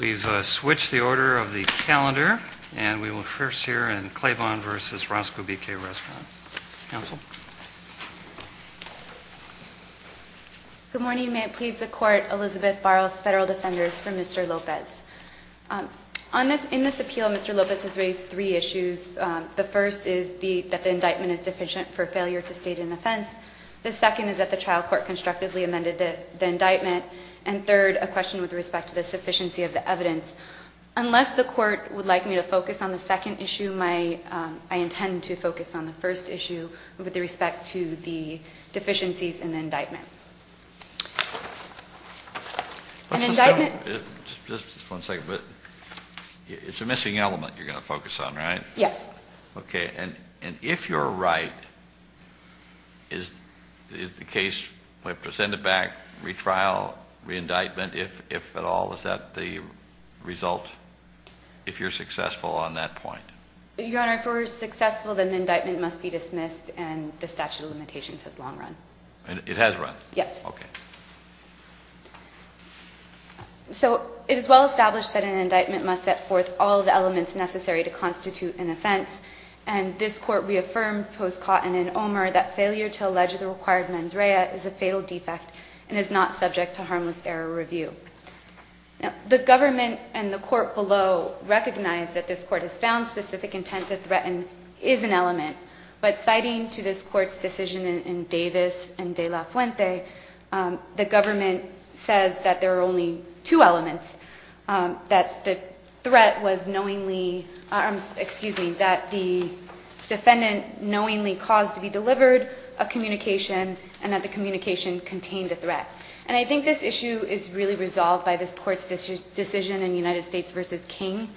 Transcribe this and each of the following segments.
We've switched the order of the calendar, and we will first hear in Claiborne v. Roscoe B. K. Restaurant. Good morning. May it please the Court, Elizabeth Barros, Federal Defenders, for Mr. Lopez. In this appeal, Mr. Lopez has raised three issues. The first is that the indictment is deficient for failure to state an offense. The second is that the trial court constructively amended the indictment. And third, a question with respect to the sufficiency of the evidence. Unless the Court would like me to focus on the second issue, I intend to focus on the first issue with respect to the deficiencies in the indictment. An indictment… Just one second. It's a missing element you're going to focus on, right? Yes. Okay. And if you're right, is the case presented back, retrial, re-indictment, if at all, is that the result, if you're successful on that point? Your Honor, if we're successful, then the indictment must be dismissed, and the statute of limitations has long run. It has run? Yes. Okay. So it is well established that an indictment must set forth all of the elements necessary to constitute an offense, and this Court reaffirmed post-Cotton and Omer that failure to allege the required mens rea is a fatal defect and is not subject to harmless error review. The Government and the Court below recognize that this Court has found specific intent to threaten is an element, but citing to this Court's decision in Davis and De La Fuente, the Government says that there are only two elements, that the threat was knowingly – excuse me, that the defendant knowingly caused to be delivered a communication and that the communication contained a threat. And I think this issue is really resolved by this Court's decision in United States v. King.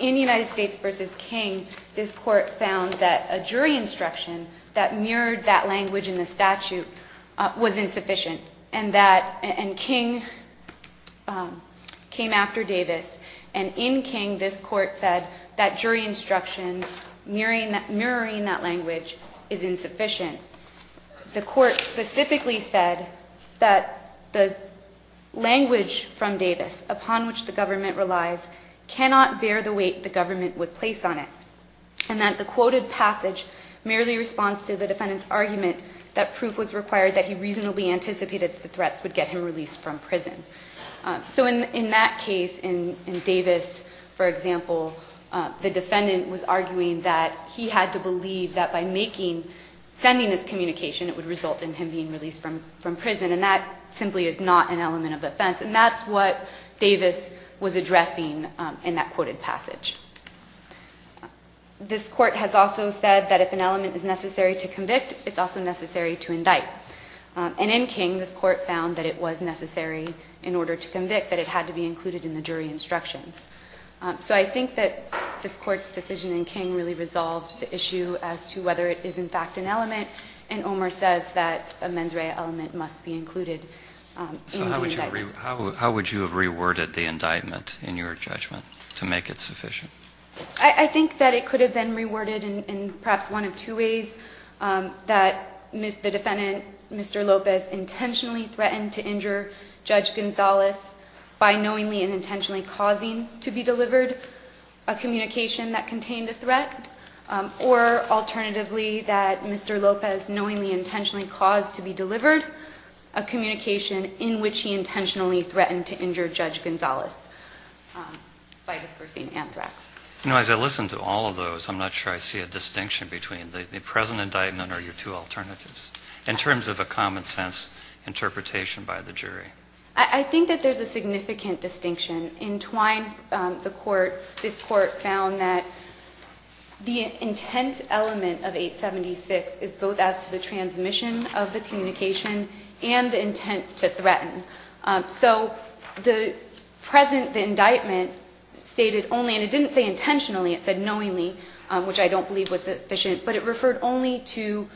In United States v. King, this Court found that a jury instruction that mirrored that language in the statute was insufficient, and that – and King came after Davis. And in King, this Court said that jury instruction mirroring that language is insufficient. The Court specifically said that the language from Davis, upon which the Government relies, cannot bear the weight the Government would place on it, and that the quoted passage merely responds to the defendant's argument that proof was required that he reasonably anticipated that the threats would get him released from prison. So in that case, in Davis, for example, the defendant was arguing that he had to believe that by making – responding to this communication, it would result in him being released from prison, and that simply is not an element of offense. And that's what Davis was addressing in that quoted passage. This Court has also said that if an element is necessary to convict, it's also necessary to indict. And in King, this Court found that it was necessary in order to convict, that it had to be included in the jury instructions. So I think that this Court's decision in King really resolves the issue as to whether it is in fact an element, and Omer says that a mens rea element must be included in the indictment. So how would you have reworded the indictment in your judgment to make it sufficient? I think that it could have been reworded in perhaps one of two ways, that the defendant, Mr. Lopez, intentionally threatened to injure Judge Gonzalez by knowingly and intentionally causing to be delivered a communication that contained a threat, or alternatively, that Mr. Lopez knowingly intentionally caused to be delivered a communication in which he intentionally threatened to injure Judge Gonzalez by dispersing anthrax. You know, as I listen to all of those, I'm not sure I see a distinction between the present indictment or your two alternatives in terms of a common-sense interpretation by the jury. I think that there's a significant distinction. In Twine, the Court, this Court found that the intent element of 876 is both as to the transmission of the communication and the intent to threaten. So the present indictment stated only, and it didn't say intentionally, it said knowingly, which I don't believe was sufficient, but it referred only to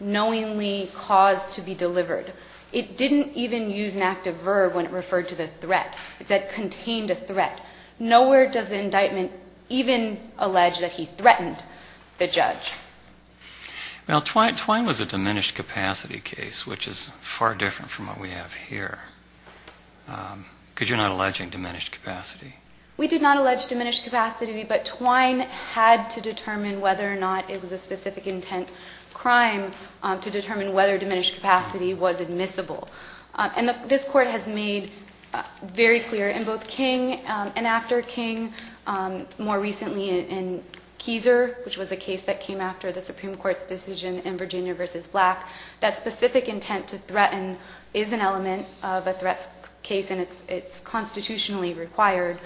knowingly caused to be delivered. It didn't even use an active verb when it referred to the threat. It said contained a threat. Nowhere does the indictment even allege that he threatened the judge. Well, Twine was a diminished capacity case, which is far different from what we have here, because you're not alleging diminished capacity. We did not allege diminished capacity, but Twine had to determine whether or not it was a specific intent crime to determine whether diminished capacity was admissible. And this Court has made very clear in both King and after King, more recently in Kieser, which was a case that came after the Supreme Court's decision in Virginia v. Black, that specific intent to threaten is an element of a threat case, and it's constitutionally required.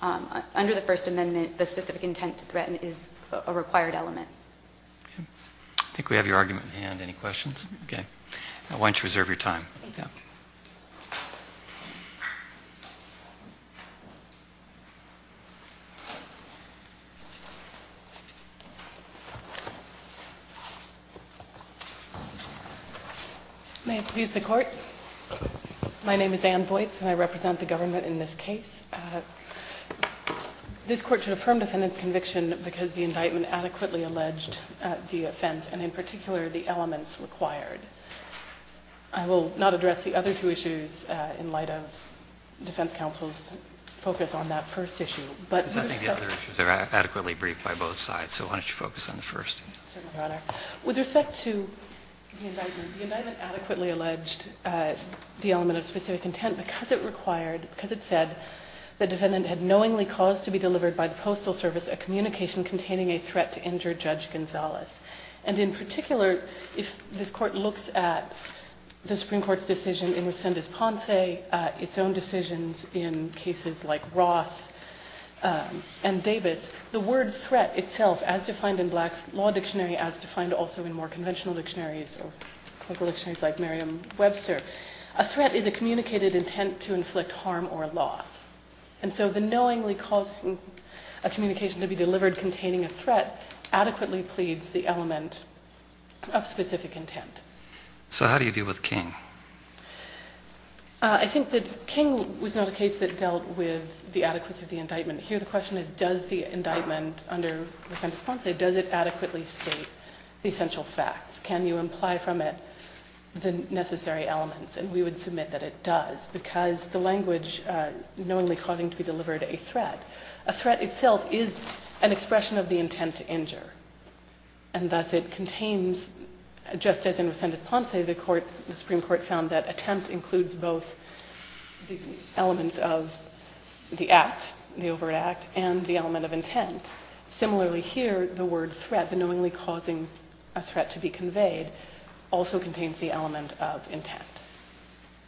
Under the First Amendment, the specific intent to threaten is a required element. I think we have your argument at hand. Any questions? Okay. Why don't you reserve your time. Thank you. May it please the Court? My name is Ann Voights, and I represent the government in this case. This Court should affirm defendant's conviction because the indictment adequately alleged the offense, and in particular, the elements required. I will not address the other two issues in light of defense counsel's focus on that first issue. But with respect to the indictment, the indictment adequately alleged the element of specific intent because it said the defendant had knowingly caused to be delivered by the Postal Service a communication containing a threat to injure Judge Gonzales. And in particular, if this Court looks at the Supreme Court's decision in Resendez-Ponce, its own decisions in cases like Ross and Davis, the word threat itself, as defined in Black's Law Dictionary, as defined also in more conventional dictionaries like Merriam-Webster, a threat is a communicated intent to inflict harm or loss. And so the knowingly causing a communication to be delivered containing a threat adequately pleads the element of specific intent. So how do you deal with King? I think that King was not a case that dealt with the adequacy of the indictment. Here the question is, does the indictment under Resendez-Ponce, does it adequately state the essential facts? Can you imply from it the necessary elements? And we would submit that it does because the language knowingly causing to be delivered a threat, a threat itself is an expression of the intent to injure. And thus it contains, just as in Resendez-Ponce, the Supreme Court found that attempt includes both the elements of the act, the overt act, and the element of intent. Similarly here, the word threat, the knowingly causing a threat to be conveyed, also contains the element of intent.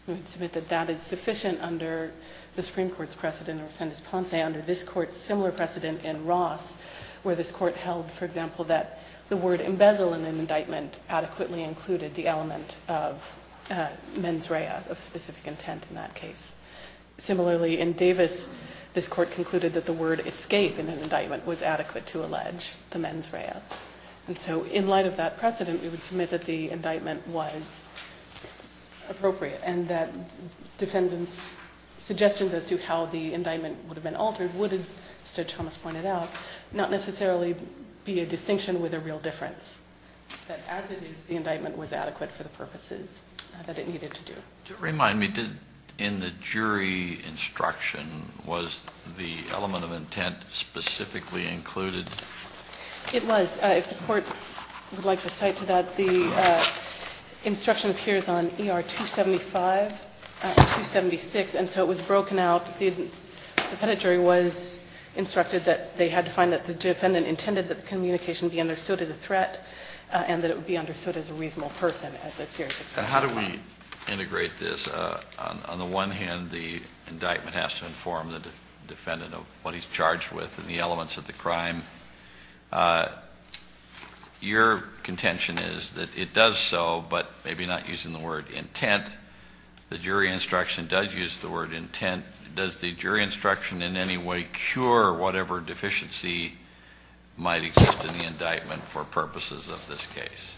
We would submit that that is sufficient under the Supreme Court's precedent, or Resendez-Ponce, under this court's similar precedent in Ross, where this court held, for example, that the word embezzle in an indictment adequately included the element of mens rea, of specific intent in that case. Similarly, in Davis, this court concluded that the word escape in an indictment was adequate to allege the mens rea. And so in light of that precedent, we would submit that the indictment was appropriate and that defendants' suggestions as to how the indictment would have been altered would, as Judge Thomas pointed out, not necessarily be a distinction with a real difference, that as it is, the indictment was adequate for the purposes that it needed to do. Do you remind me, in the jury instruction, was the element of intent specifically included? It was. If the court would like to cite to that, the instruction appears on ER 275 and 276, and so it was broken out. The defendant jury was instructed that they had to find that the defendant intended that the communication be understood as a threat and that it would be understood as a reasonable person as a serious expression of crime. So how do we integrate this? On the one hand, the indictment has to inform the defendant of what he's charged with and the elements of the crime. Your contention is that it does so, but maybe not using the word intent. The jury instruction does use the word intent. Does the jury instruction in any way cure whatever deficiency might exist in the indictment for purposes of this case?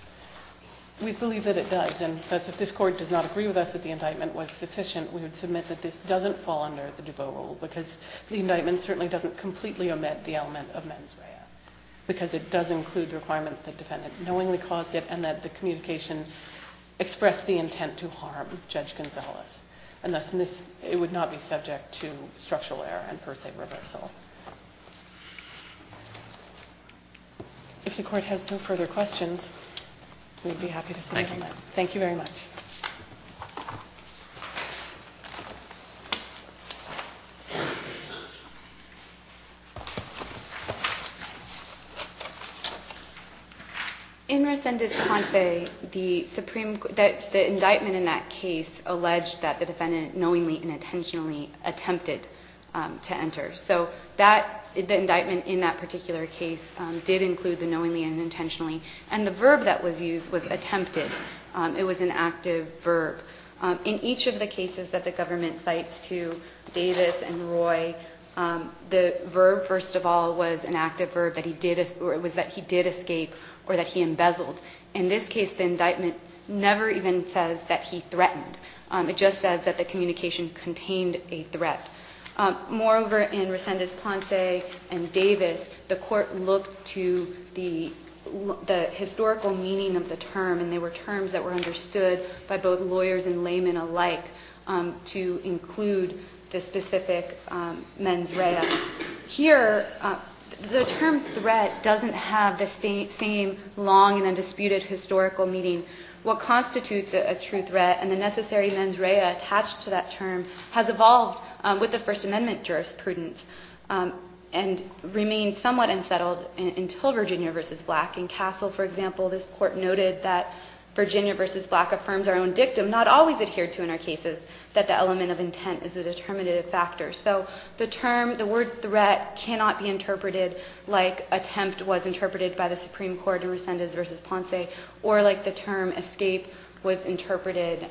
We believe that it does. And thus, if this Court does not agree with us that the indictment was sufficient, we would submit that this doesn't fall under the Dubot rule because the indictment certainly doesn't completely omit the element of mens rea because it does include the requirement that the defendant knowingly caused it and that the communication expressed the intent to harm Judge Gonzales. And thus, it would not be subject to structural error and, per se, reversal. If the Court has no further questions, we'd be happy to submit them. Thank you. Thank you very much. In rescinded confe, the Supreme Court the indictment in that case alleged that the defendant knowingly and intentionally attempted to enter. So the indictment in that particular case did include the knowingly and intentionally. And the verb that was used was attempted. It was an active verb. In each of the cases that the government cites to Davis and Roy, the verb, first of all, was an active verb, that he did escape or that he embezzled. In this case, the indictment never even says that he threatened. It just says that the communication contained a threat. Moreover, in rescinded confe and Davis, the Court looked to the historical meaning of the term, and they were terms that were understood by both lawyers and laymen alike to include the specific mens rea. Here, the term threat doesn't have the same long and undisputed historical meaning. What constitutes a true threat and the necessary mens rea attached to that term has evolved with the First Amendment jurisprudence and remained somewhat unsettled until Virginia v. Black. In Castle, for example, this Court noted that Virginia v. Black affirms our own dictum, not always adhered to in our cases, that the element of intent is a determinative factor. So the term, the word threat cannot be interpreted like attempt was interpreted by the Supreme Court in rescindeds v. Ponce or like the term escape was interpreted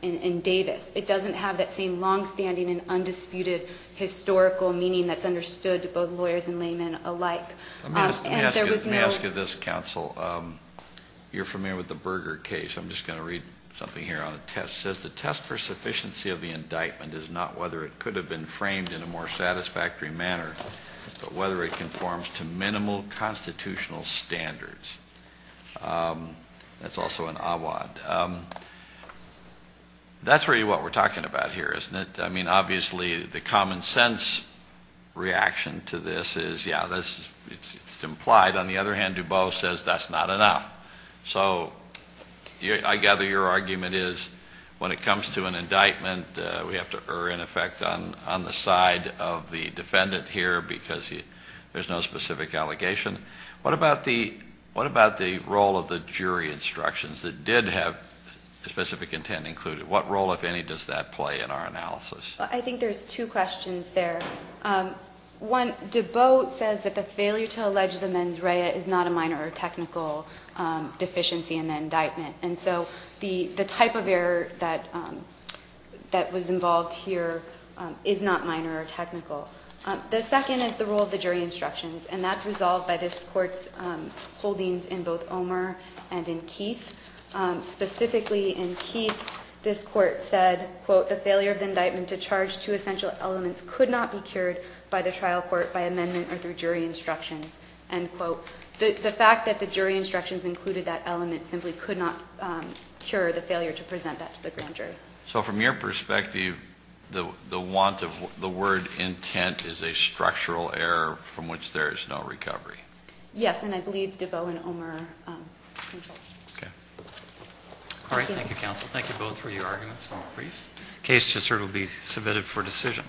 in Davis. It doesn't have that same long-standing and undisputed historical meaning that's understood to both lawyers and laymen alike. Let me ask you this, counsel. You're familiar with the Berger case. I'm just going to read something here on a test. It says the test for sufficiency of the indictment is not whether it could have been framed in a more satisfactory manner, but whether it conforms to minimal constitutional standards. That's also an awad. That's really what we're talking about here, isn't it? I mean, obviously the common sense reaction to this is, yeah, it's implied. On the other hand, DuBose says that's not enough. So I gather your argument is when it comes to an indictment, we have to err, in effect, on the side of the defendant here because there's no specific allegation. What about the role of the jury instructions that did have a specific intent included? What role, if any, does that play in our analysis? I think there's two questions there. One, DuBose says that the failure to allege the mens rea is not a minor or technical deficiency in the indictment. And so the type of error that was involved here is not minor or technical. The second is the role of the jury instructions, and that's resolved by this Court's holdings in both Omer and in Keith. Specifically in Keith, this Court said, quote, the failure of the indictment to charge two essential elements could not be cured by the trial court by amendment or through jury instructions, end quote. The fact that the jury instructions included that element simply could not cure the failure to present that to the grand jury. So from your perspective, the want of the word intent is a structural error from which there is no recovery. Yes, and I believe DuBose and Omer controlled it. Okay. All right. Thank you, counsel. Thank you both for your arguments on the briefs. The case should certainly be submitted for decision.